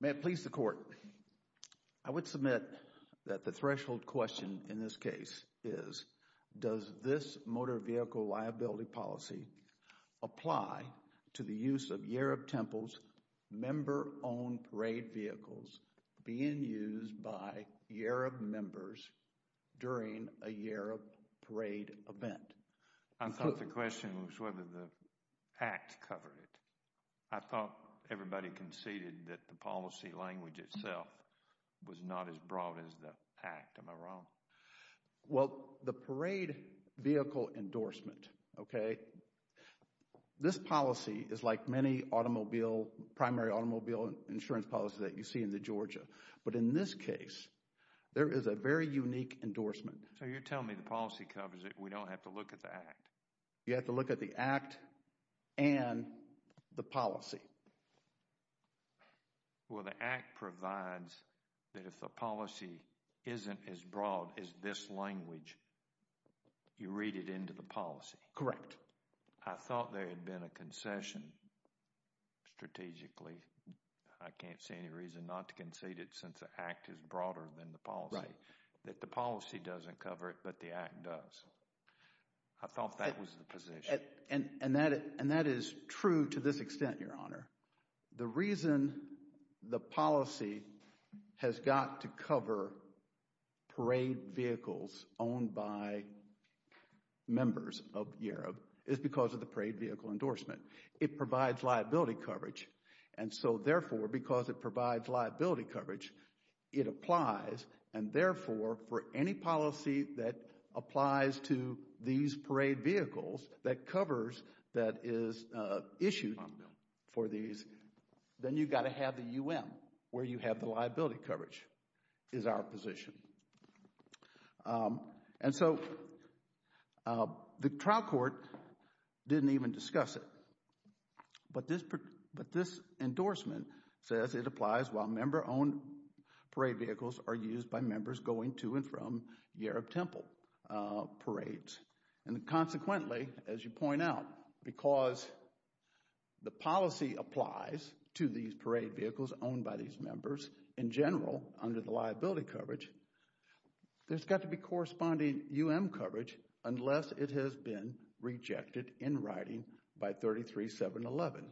May it please the Court, I would submit that the threshold question in this case is, does this motor vehicle liability policy apply to the use of Yarrab Temple's member-owned parade vehicles being used by Yarrab members during a Yarrab parade event? I thought the question was whether the Act covered it. I thought everybody conceded that the policy language itself was not as broad as the Act. Am I wrong? Well, the parade vehicle endorsement, okay, this policy is like many automobile, primary automobile insurance policy that you see in the Georgia. But in this case, there is a very unique endorsement. So, you're telling me the policy covers it, we don't have to look at the Act? You have to look at the Act and the policy. Well, the Act provides that if the policy isn't as broad as this language, you read it into the policy. Correct. So, I thought there had been a concession strategically, I can't see any reason not to concede it since the Act is broader than the policy, that the policy doesn't cover it but the Act does. I thought that was the position. And that is true to this extent, Your Honor. The reason the policy has got to cover parade vehicles owned by members of YAROB is because of the parade vehicle endorsement. It provides liability coverage. And so, therefore, because it provides liability coverage, it applies and, therefore, for any then you've got to have the UM, where you have the liability coverage, is our position. And so, the trial court didn't even discuss it, but this endorsement says it applies while member-owned parade vehicles are used by members going to and from YAROB Temple parades. And consequently, as you point out, because the policy applies to these parade vehicles owned by these members, in general, under the liability coverage, there's got to be corresponding UM coverage unless it has been rejected in writing by 33711.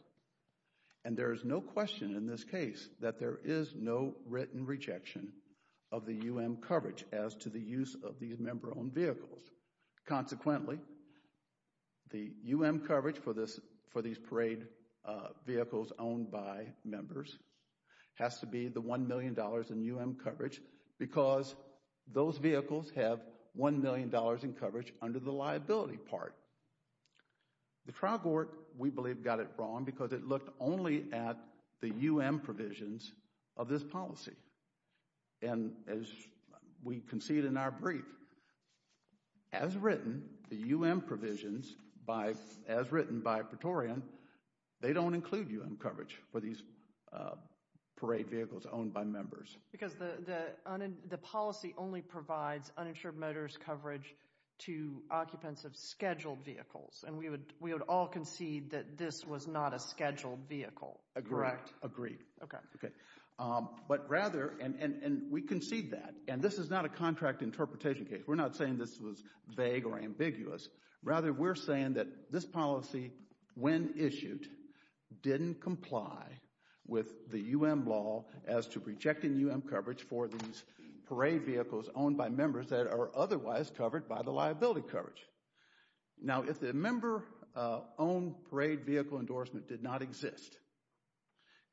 And there is no question in this case that there is no written rejection of the UM coverage as to the use of these member-owned vehicles. Consequently, the UM coverage for these parade vehicles owned by members has to be the $1 million in UM coverage because those vehicles have $1 million in coverage under the liability part. The trial court, we believe, got it wrong because it looked only at the UM provisions of this policy. And as we concede in our brief, as written, the UM provisions, as written by Pretorian, they don't include UM coverage for these parade vehicles owned by members. Because the policy only provides uninsured motorist coverage to occupants of scheduled vehicles. And we would all concede that this was not a scheduled vehicle. Correct. Agreed. Okay. But rather, and we concede that, and this is not a contract interpretation case. We're not saying this was vague or ambiguous. Rather we're saying that this policy, when issued, didn't comply with the UM law as to rejecting UM coverage for these parade vehicles owned by members that are otherwise covered by the liability coverage. Now if the member-owned parade vehicle endorsement did not exist,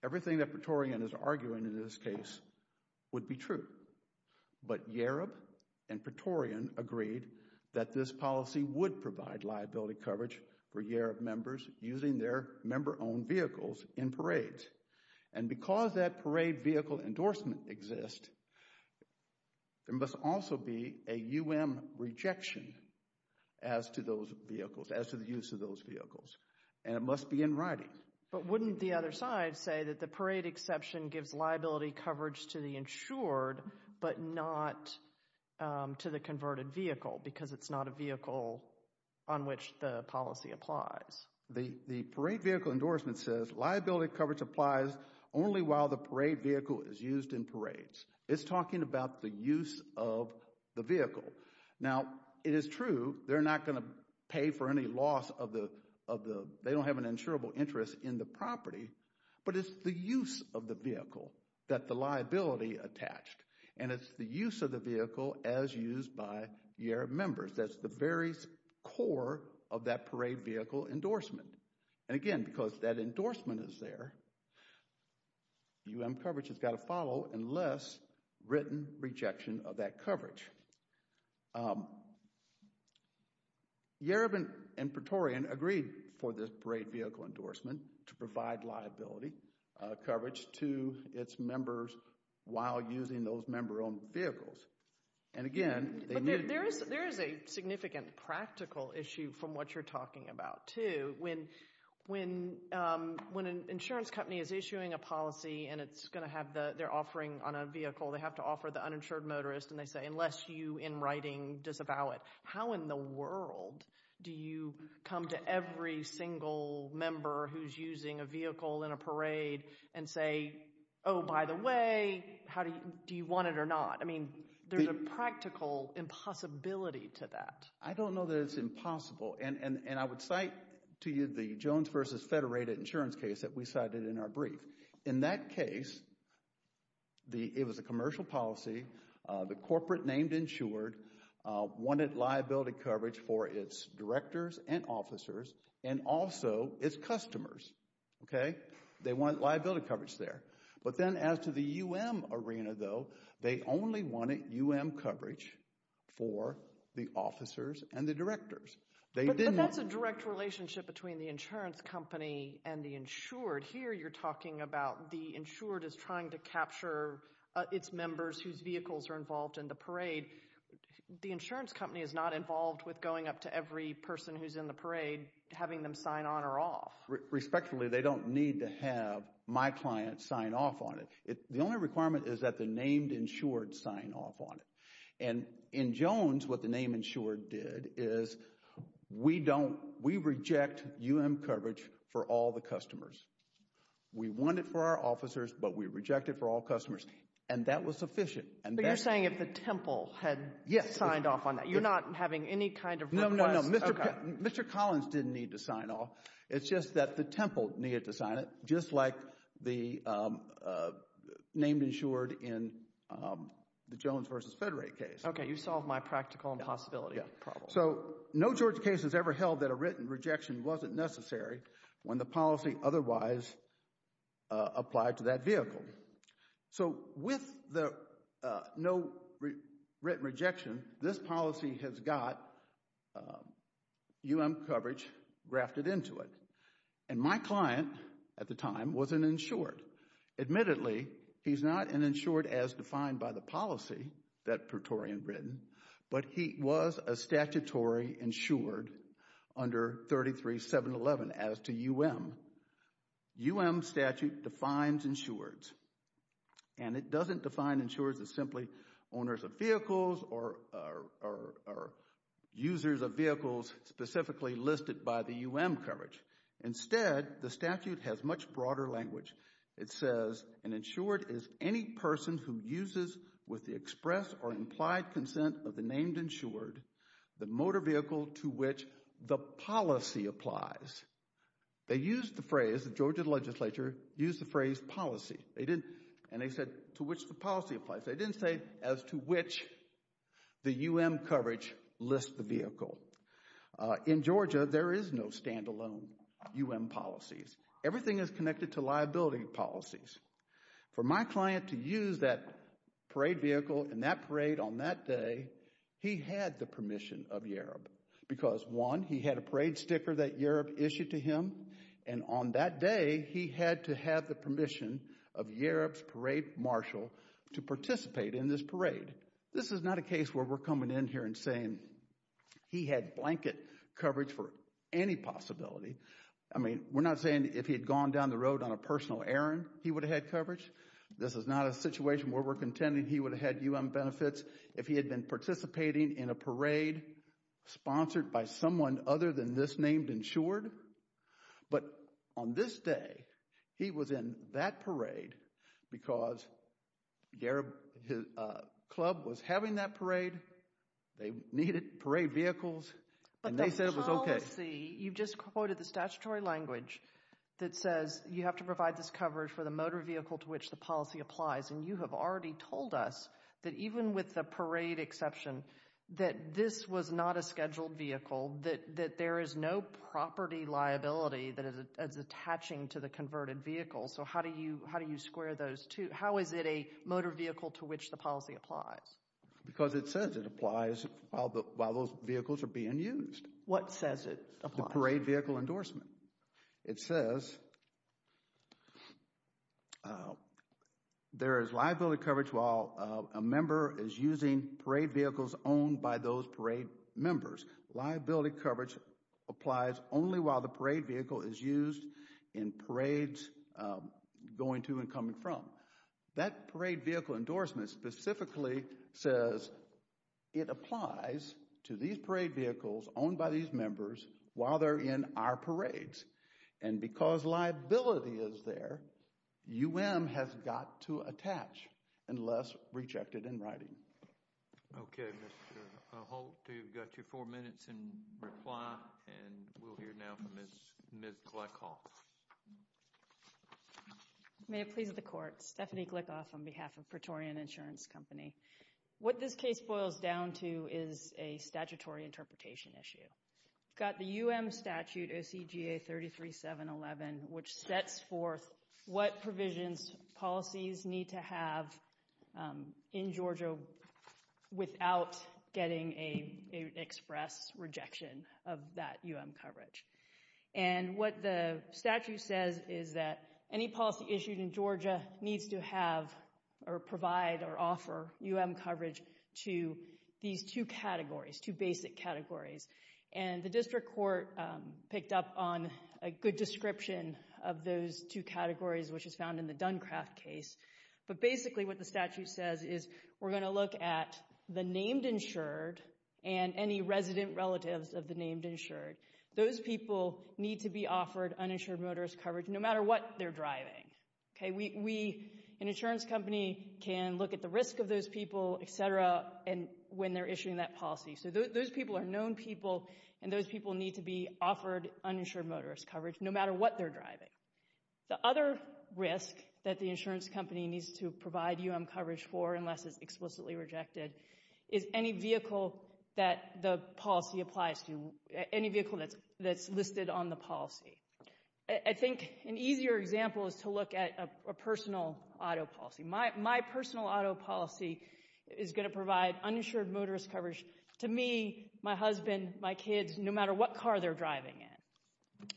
everything that Pretorian is arguing in this case would be true. But Yareb and Pretorian agreed that this policy would provide liability coverage for Yareb members using their member-owned vehicles in parades. And because that parade vehicle endorsement exists, there must also be a UM rejection as to those vehicles, as to the use of those vehicles. And it must be in writing. But wouldn't the other side say that the parade exception gives liability coverage to the insured but not to the converted vehicle because it's not a vehicle on which the policy applies? The parade vehicle endorsement says liability coverage applies only while the parade vehicle is used in parades. It's talking about the use of the vehicle. Now it is true they're not going to pay for any loss of the, they don't have an insurable interest in the property, but it's the use of the vehicle that the liability attached. And it's the use of the vehicle as used by Yareb members. That's the very core of that parade vehicle endorsement. And again, because that endorsement is there, UM coverage has got to follow unless written rejection of that coverage. Um, Yareb and Praetorian agreed for this parade vehicle endorsement to provide liability coverage to its members while using those member-owned vehicles. And again, they knew... But there is a significant practical issue from what you're talking about, too. When an insurance company is issuing a policy and it's going to have the, they're offering on a vehicle, they have to offer the uninsured motorist and they say, unless you in writing disavow it. How in the world do you come to every single member who's using a vehicle in a parade and say, oh, by the way, how do you, do you want it or not? I mean, there's a practical impossibility to that. I don't know that it's impossible. And I would cite to you the Jones versus Federated insurance case that we cited in our brief. In that case, the, it was a commercial policy, the corporate named insured wanted liability coverage for its directors and officers and also its customers, okay? They wanted liability coverage there. But then as to the UM arena, though, they only wanted UM coverage for the officers and the directors. They didn't... But that's a direct relationship between the insurance company and the insured. So in that word here, you're talking about the insured is trying to capture its members whose vehicles are involved in the parade. The insurance company is not involved with going up to every person who's in the parade, having them sign on or off. Respectfully, they don't need to have my client sign off on it. The only requirement is that the named insured sign off on it. And in Jones, what the name insured did is we don't, we reject UM coverage for all the customers. We want it for our officers, but we reject it for all customers. And that was sufficient. But you're saying if the Temple had signed off on that, you're not having any kind of request? No, no, no. Mr. Collins didn't need to sign off. It's just that the Temple needed to sign it, just like the named insured in the Jones versus Federate case. Okay, you solved my practical impossibility problem. So no Georgia case has ever held that a written rejection wasn't necessary when the policy otherwise applied to that vehicle. So with the no written rejection, this policy has got UM coverage grafted into it. And my client at the time was an insured. Admittedly, he's not an insured as defined by the policy that Praetorian written, but he was a statutory insured under 33-711 as to UM. UM statute defines insureds. And it doesn't define insureds as simply owners of vehicles or users of vehicles specifically listed by the UM coverage. Instead, the statute has much broader language. It says an insured is any person who uses with the express or implied consent of the named insured the motor vehicle to which the policy applies. They used the phrase, the Georgia legislature used the phrase policy. They didn't, and they said to which the policy applies. They didn't say as to which the UM coverage lists the vehicle. In Georgia, there is no standalone UM policies. Everything is connected to liability policies. For my client to use that parade vehicle and that parade on that day, he had the permission of YAROB because one, he had a parade sticker that YAROB issued to him, and on that day he had to have the permission of YAROB's parade marshal to participate in this parade. This is not a case where we're coming in here and saying he had blanket coverage for any possibility. I mean, we're not saying if he had gone down the road on a personal errand, he would have had coverage. This is not a situation where we're contending he would have had UM benefits if he had been participating in a parade sponsored by someone other than this named insured. But on this day, he was in that parade because YAROB, his club was having that parade. They needed parade vehicles, and they said it was okay. Okay. I see. You've just quoted the statutory language that says you have to provide this coverage for the motor vehicle to which the policy applies, and you have already told us that even with the parade exception, that this was not a scheduled vehicle, that there is no property liability that is attaching to the converted vehicle, so how do you square those two? How is it a motor vehicle to which the policy applies? Because it says it applies while those vehicles are being used. What says it applies? The parade vehicle endorsement. It says there is liability coverage while a member is using parade vehicles owned by those parade members. Liability coverage applies only while the parade vehicle is used in parades going to and coming from. That parade vehicle endorsement specifically says it applies to these parade vehicles owned by these members while they're in our parades, and because liability is there, UM has got to attach unless rejected in writing. Okay. Mr. Holt, you've got your four minutes in reply, and we'll hear now from Ms. Glickhoff. May it please the Court. Stephanie Glickhoff on behalf of Praetorian Insurance Company. What this case boils down to is a statutory interpretation issue. We've got the UM statute, OCGA 33711, which sets forth what provisions policies need to have in Georgia without getting an express rejection of that UM coverage. And what the statute says is that any policy issued in Georgia needs to have or provide or offer UM coverage to these two categories, two basic categories. And the district court picked up on a good description of those two categories, which is found in the Duncraft case. But basically what the statute says is we're going to look at the named insured and any resident relatives of the named insured. Those people need to be offered uninsured motorist coverage no matter what they're driving. Okay, we, an insurance company, can look at the risk of those people, etc., when they're issuing that policy. So those people are known people, and those people need to be offered uninsured motorist coverage no matter what they're driving. The other risk that the insurance company needs to provide UM coverage for unless it's explicitly rejected is any vehicle that the policy applies to, any vehicle that's listed on the policy. I think an easier example is to look at a personal auto policy. My personal auto policy is going to provide uninsured motorist coverage to me, my husband, my kids, no matter what car they're driving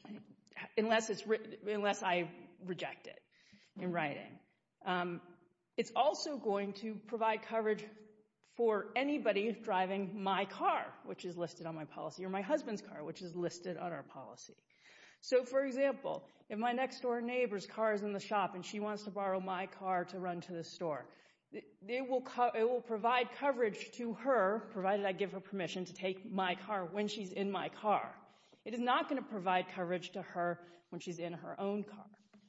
in, unless I reject it in writing. It's also going to provide coverage for anybody driving my car, which is listed on my policy, or my husband's car, which is listed on our policy. So for example, if my next door neighbor's car is in the shop and she wants to borrow my car to run to the store, it will provide coverage to her, provided I give her permission to take my car when she's in my car. It is not going to provide coverage to her when she's in her own car.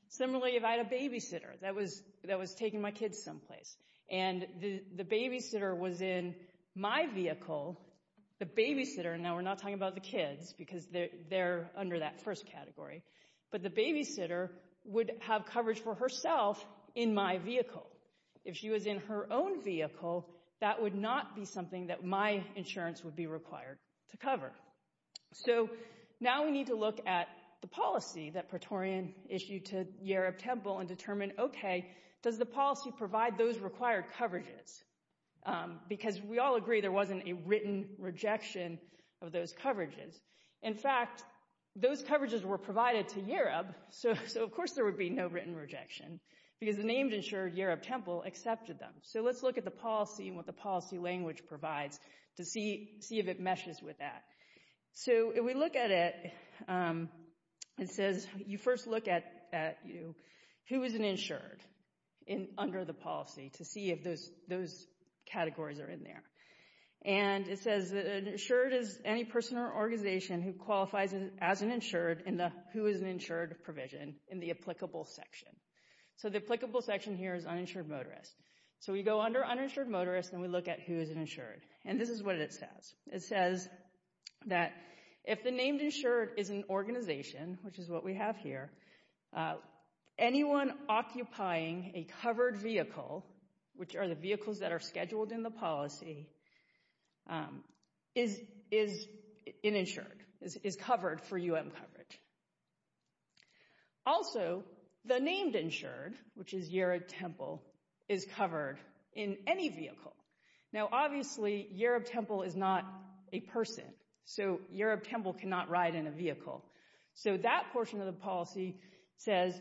Similarly, if I had a babysitter that was taking my kids someplace, and the babysitter was in my vehicle, the babysitter, and now we're not talking about the kids because they're under that first category, but the babysitter would have coverage for herself in my vehicle. If she was in her own vehicle, that would not be something that my insurance would be required to cover. So now we need to look at the policy that Praetorian issued to Yerup Temple and determine, okay, does the policy provide those required coverages? Because we all agree there wasn't a written rejection of those coverages. In fact, those coverages were provided to Yerup, so of course there would be no written rejection because the named insurer, Yerup Temple, accepted them. So let's look at the policy and what the policy language provides to see if it meshes with that. So if we look at it, it says you first look at who is an insured under the policy to see if those categories are in there. And it says that an insured is any person or organization who qualifies as an insured in the who is an insured provision in the applicable section. So the applicable section here is uninsured motorist. So we go under uninsured motorist and we look at who is an insured. And this is what it says. It says that if the named insured is an organization, which is what we have here, anyone occupying a covered vehicle, which are the vehicles that are scheduled in the policy, is uninsured, is covered for UM coverage. Also the named insured, which is Yerup Temple, is covered in any vehicle. Now obviously Yerup Temple is not a person. So Yerup Temple cannot ride in a vehicle. So that portion of the policy says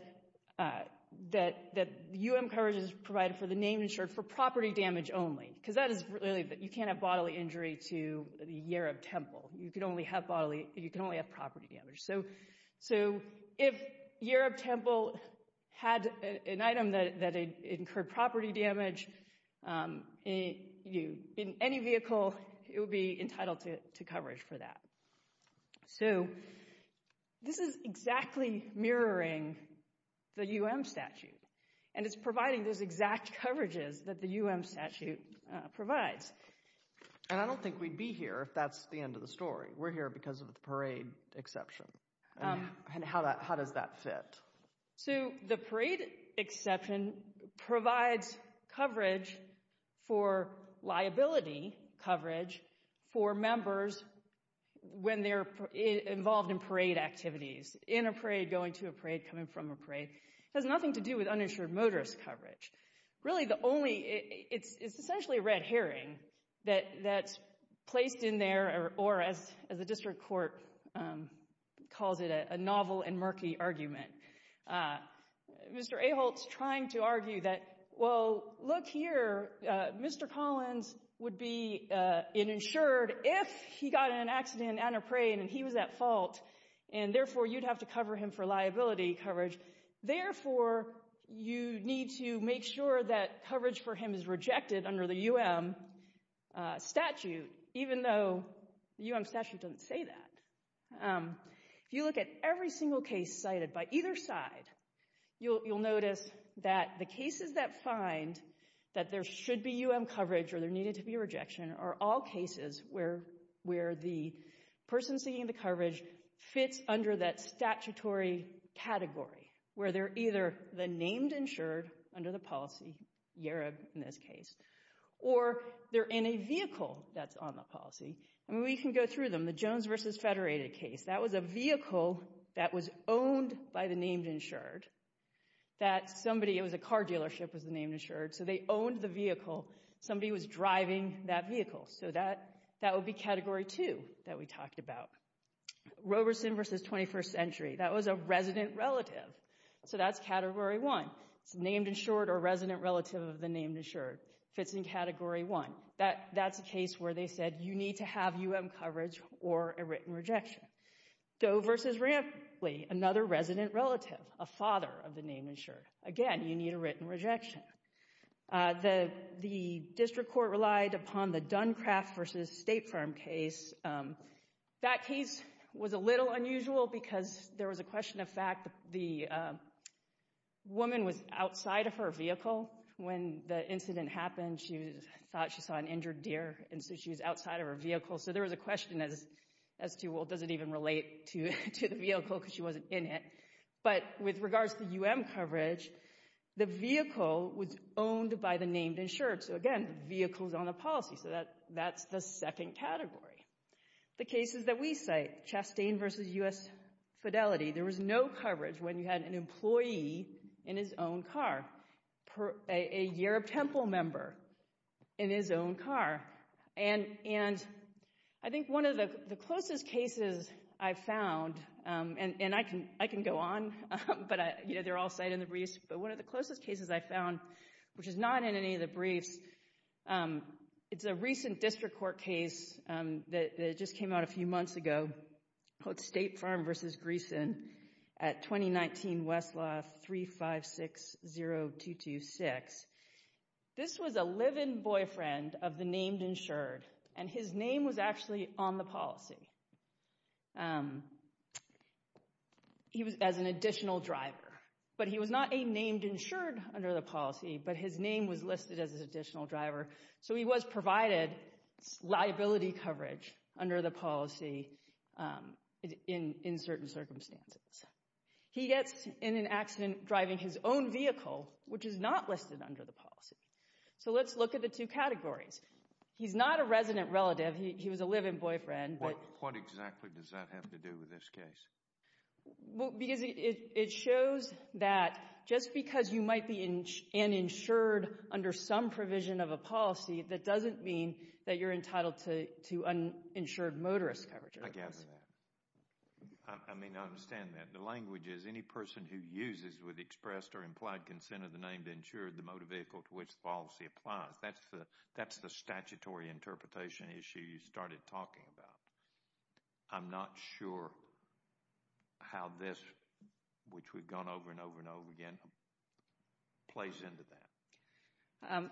that UM coverage is provided for the named insured for property damage only. Because that is really, you can't have bodily injury to Yerup Temple. You can only have bodily, you can only have property damage. So if Yerup Temple had an item that incurred property damage in any vehicle, it would be entitled to coverage for that. So this is exactly mirroring the UM statute. And it's providing those exact coverages that the UM statute provides. And I don't think we'd be here if that's the end of the story. We're here because of the parade exception. And how does that fit? So the parade exception provides coverage for liability coverage for members when they're involved in parade activities. In a parade, going to a parade, coming from a parade. It has nothing to do with uninsured motorist coverage. Really the only, it's essentially a red herring that's placed in there, or as the district court calls it, a novel and murky argument. Mr. Aholt's trying to argue that, well, look here, Mr. Collins would be insured if he got in an accident and a parade and he was at fault. And therefore, you'd have to cover him for liability coverage. Therefore, you need to make sure that coverage for him is rejected under the UM statute, even though the UM statute doesn't say that. If you look at every single case cited by either side, you'll notice that the cases that find that there should be UM coverage or there needed to be a rejection are all cases where the person seeking the coverage fits under that statutory category. Where they're either the named insured under the policy, Yarob in this case, or they're in a vehicle that's on the policy. And we can go through them. The Jones v. Federated case. That was a vehicle that was owned by the named insured. That somebody, it was a car dealership, was the named insured. So they owned the vehicle. Somebody was driving that vehicle. So that would be category two that we talked about. Roberson v. 21st Century. That was a resident relative. So that's category one. It's named insured or resident relative of the named insured. Fits in category one. That's a case where they said you need to have UM coverage or a written rejection. Doe v. Rampley. Another resident relative. A father of the named insured. Again, you need a written rejection. The district court relied upon the Duncraft v. State Farm case. That case was a little unusual because there was a question of fact. The woman was outside of her vehicle when the incident happened. She thought she saw an injured deer. And so she was outside of her vehicle. So there was a question as to, well, does it even relate to the vehicle? Because she wasn't in it. But with regards to UM coverage, the vehicle was owned by the named insured. So again, the vehicle's on the policy. So that's the second category. The cases that we cite. Chastain v. U.S. Fidelity. There was no coverage when you had an employee in his own car. A Yurov Temple member in his own car. And I think one of the closest cases I've found, and I can go on, but they're all cited in the briefs. But one of the closest cases I found, which is not in any of the briefs, it's a recent district court case that just came out a few months ago called State Farm v. Greeson at 2019 Westlaw 3560226. This was a live-in boyfriend of the named insured. And his name was actually on the policy. He was as an additional driver. But he was not a named insured under the policy. But his name was listed as an additional driver. So he was provided liability coverage under the policy in certain circumstances. He gets in an accident driving his own vehicle, which is not listed under the policy. So let's look at the two categories. He's not a resident relative. He was a live-in boyfriend. But what exactly does that have to do with this case? Well, because it shows that just because you might be an insured under some provision of a policy, that doesn't mean that you're entitled to uninsured motorist coverage. I gather that. I mean, I understand that. The language is, any person who uses with expressed or implied consent of the name to insure the motor vehicle to which the policy applies. That's the statutory interpretation issue you started talking about. I'm not sure how this, which we've gone over and over and over again, plays into that.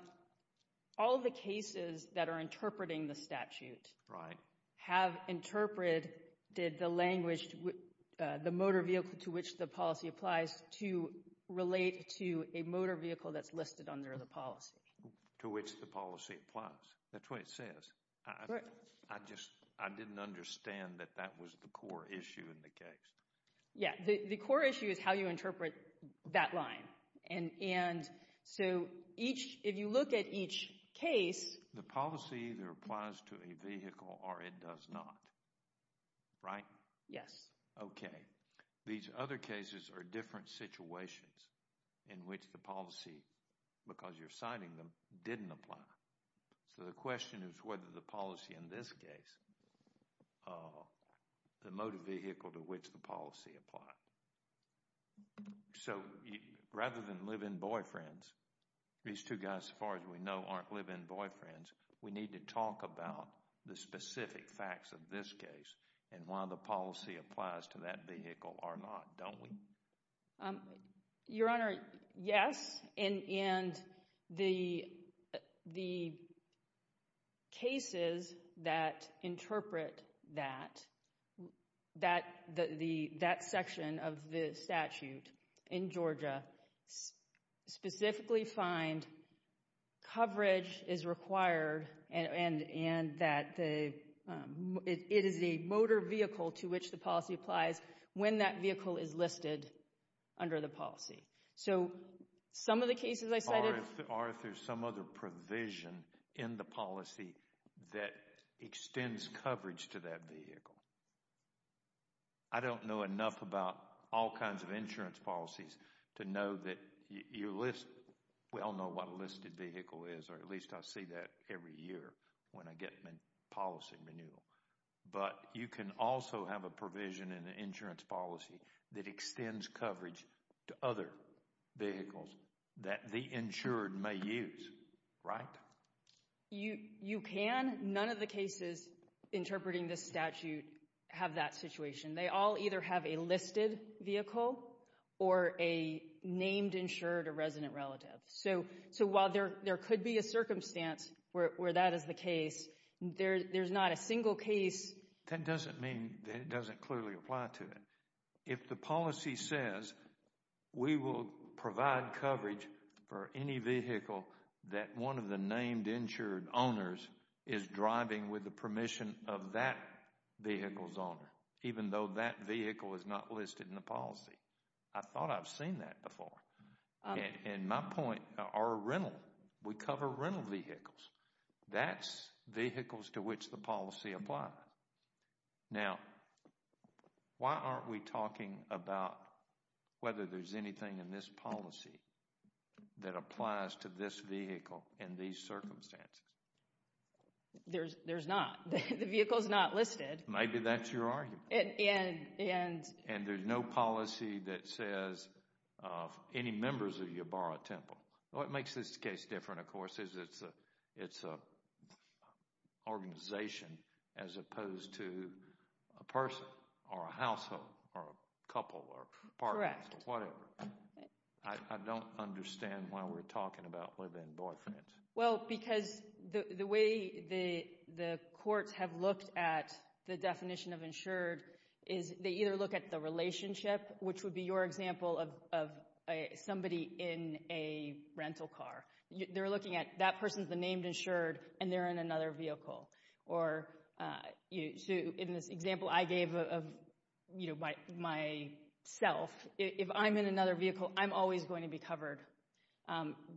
All the cases that are interpreting the statute. Right. Have interpreted the language, the motor vehicle to which the policy applies to relate to a motor vehicle that's listed under the policy. To which the policy applies. That's what it says. I just, I didn't understand that that was the core issue in the case. Yeah, the core issue is how you interpret that line. And so each, if you look at each case. The policy either applies to a vehicle or it does not. Right? Yes. Okay. These other cases are different situations in which the policy, because you're citing them, didn't apply. So the question is whether the policy in this case, the motor vehicle to which the policy applies. So rather than live-in boyfriends, these two guys, as far as we know, aren't live-in boyfriends. We need to talk about the specific facts of this case and why the policy applies to that vehicle or not, don't we? Um, Your Honor, yes. And, and the, the cases that interpret that, that, the, that section of the statute in Georgia specifically find coverage is required and, and, and that the, um, it is a motor vehicle to which the policy applies when that vehicle is listed under the policy. So some of the cases I cited. Are there some other provision in the policy that extends coverage to that vehicle? I don't know enough about all kinds of insurance policies to know that you list, we all know what a listed vehicle is, or at least I see that every year when I get my policy renewal. But you can also have a provision in the insurance policy that extends coverage to other vehicles that the insured may use, right? You, you can. None of the cases interpreting this statute have that situation. They all either have a listed vehicle or a named insured or resident relative. So, so while there, there could be a circumstance where, where that is the case, there, there's not a single case. That doesn't mean that it doesn't clearly apply to it. If the policy says we will provide coverage for any vehicle that one of the named insured owners is driving with the permission of that vehicle's owner, even though that vehicle is not listed in the policy. I thought I've seen that before. And my point, our rental, we cover rental vehicles. That's vehicles to which the policy applies. Now, why aren't we talking about whether there's anything in this policy that applies to this vehicle in these circumstances? There's, there's not. The vehicle's not listed. Maybe that's your argument. And, and there's no policy that says of any members of your borough temple. What makes this case different, of course, is it's a, it's a organization as opposed to a person or a household or a couple or partners or whatever. I don't understand why we're talking about living boyfriends. Well, because the, the way the, the courts have looked at the definition of insured is they either look at the relationship, which would be your example of somebody in a rental car. They're looking at that person's the named insured, and they're in another vehicle. Or you, in this example I gave of, you know, my, my self, if I'm in another vehicle, I'm always going to be covered.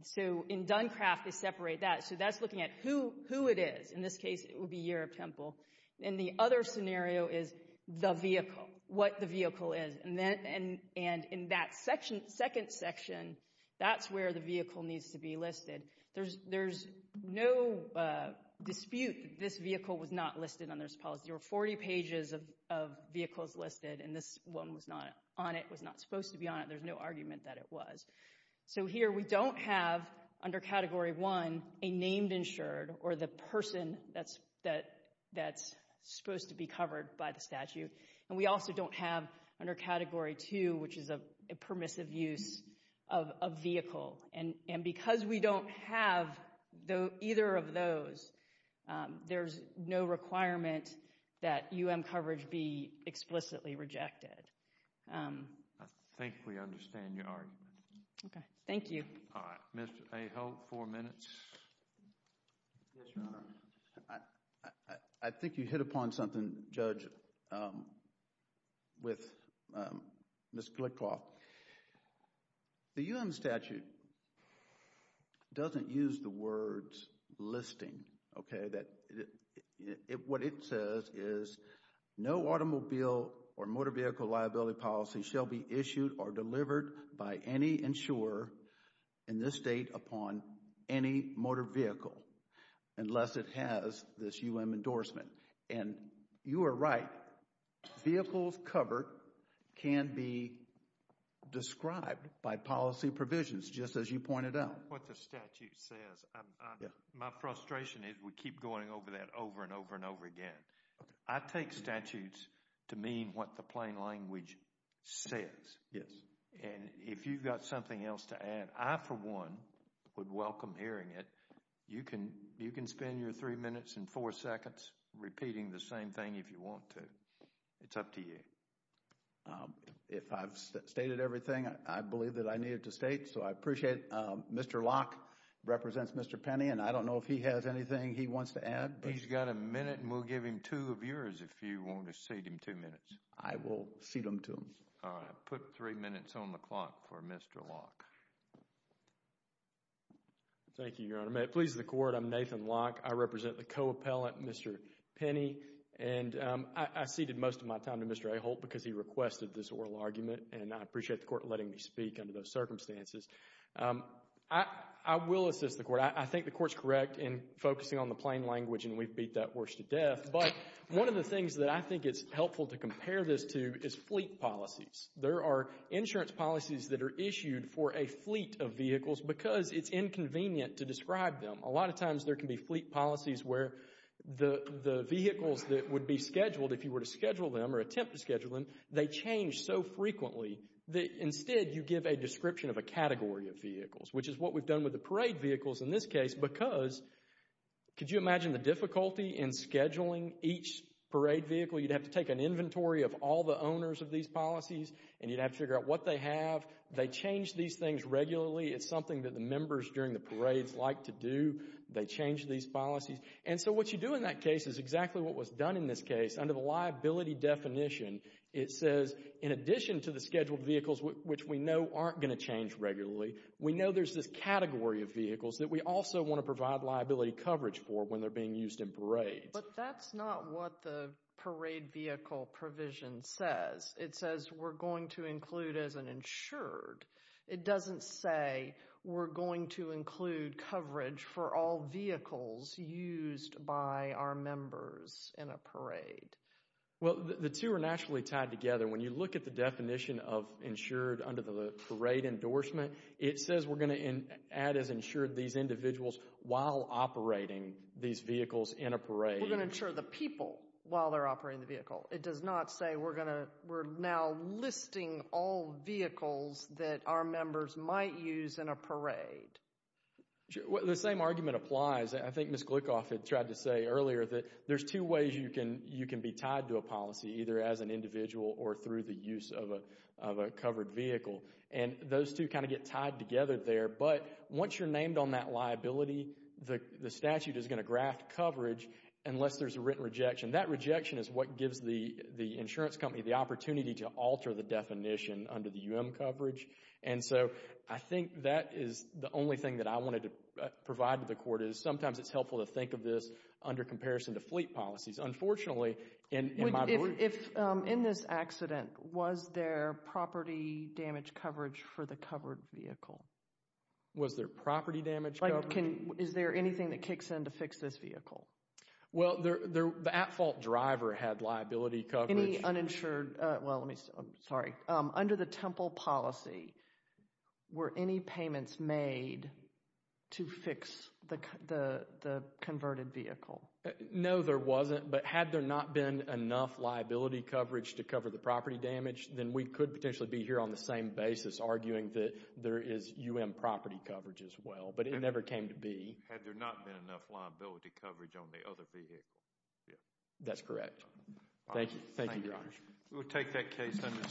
So in Duncraft, they separate that. So that's looking at who, who it is. In this case, it would be your temple. And the other scenario is the vehicle, what the vehicle is. And then, and, and in that section, second section, that's where the vehicle needs to be listed. There's, there's no dispute that this vehicle was not listed on this policy. There were 40 pages of, of vehicles listed, and this one was not on it, was not supposed to be on it. There's no argument that it was. So here, we don't have, under Category 1, a named insured, or the person that's, that, that's supposed to be covered by the statute. And we also don't have, under Category 2, which is a permissive use of, of vehicle. And, and because we don't have the, either of those, there's no requirement that UM coverage be explicitly rejected. I think we understand your argument. Okay. Thank you. All right. Mr. Aho, four minutes. Yes, Your Honor. I think you hit upon something, Judge, with Ms. Glickoff. The UM statute doesn't use the words listing, okay. That, what it says is, no automobile or motor vehicle liability policy shall be issued or delivered by any insurer in this state upon any motor vehicle unless it has this UM endorsement. And you are right. Vehicles covered can be described by policy provisions, just as you pointed out. What the statute says, my frustration is we keep going over that over and over and over again. I take statutes to mean what the plain language says. Yes. And if you've got something else to add, I for one would welcome hearing it. You can, you can spend your three minutes and four seconds repeating the same thing if you want to. It's up to you. If I've stated everything, I believe that I needed to state. So I appreciate it. Mr. Locke represents Mr. Penny, and I don't know if he has anything he wants to add. He's got a minute, and we'll give him two of yours if you want to cede him two minutes. I will cede them to him. All right. Put three minutes on the clock for Mr. Locke. Thank you, Your Honor. May it please the Court, I'm Nathan Locke. I represent the co-appellant, Mr. Penny. And I ceded most of my time to Mr. Aho because he requested this oral argument, and I appreciate the Court letting me speak under those circumstances. I will assist the Court. I think the Court's correct in focusing on the plain language, and we've beat that horse to death. But one of the things that I think is helpful to compare this to is fleet policies. There are insurance policies that are issued for a fleet of vehicles because it's inconvenient to describe them. A lot of times there can be fleet policies where the vehicles that would be scheduled, if you were to schedule them or attempt to schedule them, they change so frequently that instead you give a description of a category of vehicles, which is what we've done with the parade vehicles in this case because, could you imagine the difficulty in scheduling each parade vehicle? You'd have to take an inventory of all the owners of these policies, and you'd have to figure out what they have. They change these things regularly. It's something that the members during the parades like to do. They change these policies. And so what you do in that case is exactly what was done in this case. Under the liability definition, it says in addition to the scheduled vehicles, which we know aren't going to change regularly, we know there's this category of vehicles that we also want to provide liability coverage for when they're being used in parades. But that's not what the parade vehicle provision says. It says we're going to include as an insured. It doesn't say we're going to include coverage for all vehicles used by our members in a parade. Well, the two are naturally tied together. When you look at the definition of insured under the parade endorsement, it says we're going to add as insured these individuals while operating these vehicles in a parade. We're going to insure the people while they're operating the vehicle. It does not say we're going to, we're now listing all vehicles that our members might use in a parade. The same argument applies. I think Ms. Gluckhoff had tried to say earlier that there's two ways you can be tied to a policy, either as an individual or through the use of a covered vehicle. Those two kind of get tied together there. But once you're named on that liability, the statute is going to graft coverage unless there's a written rejection. That rejection is what gives the insurance company the opportunity to alter the definition under the UM coverage. And so I think that is the only thing that I wanted to provide to the court is sometimes it's helpful to think of this under comparison to fleet policies. Unfortunately, in my belief... If, in this accident, was there property damage coverage for the covered vehicle? Was there property damage coverage? Is there anything that kicks in to fix this vehicle? Well, the at-fault driver had liability coverage. Any uninsured, well, let me, I'm sorry. Under the Temple policy, were any payments made to fix the converted vehicle? No, there wasn't. But had there not been enough liability coverage to cover the property damage, then we could potentially be here on the same basis arguing that there is UM property coverage as well. But it never came to be. Had there not been enough liability coverage on the other vehicle. That's correct. Thank you. Thank you, Your Honor. We will take that case under submission.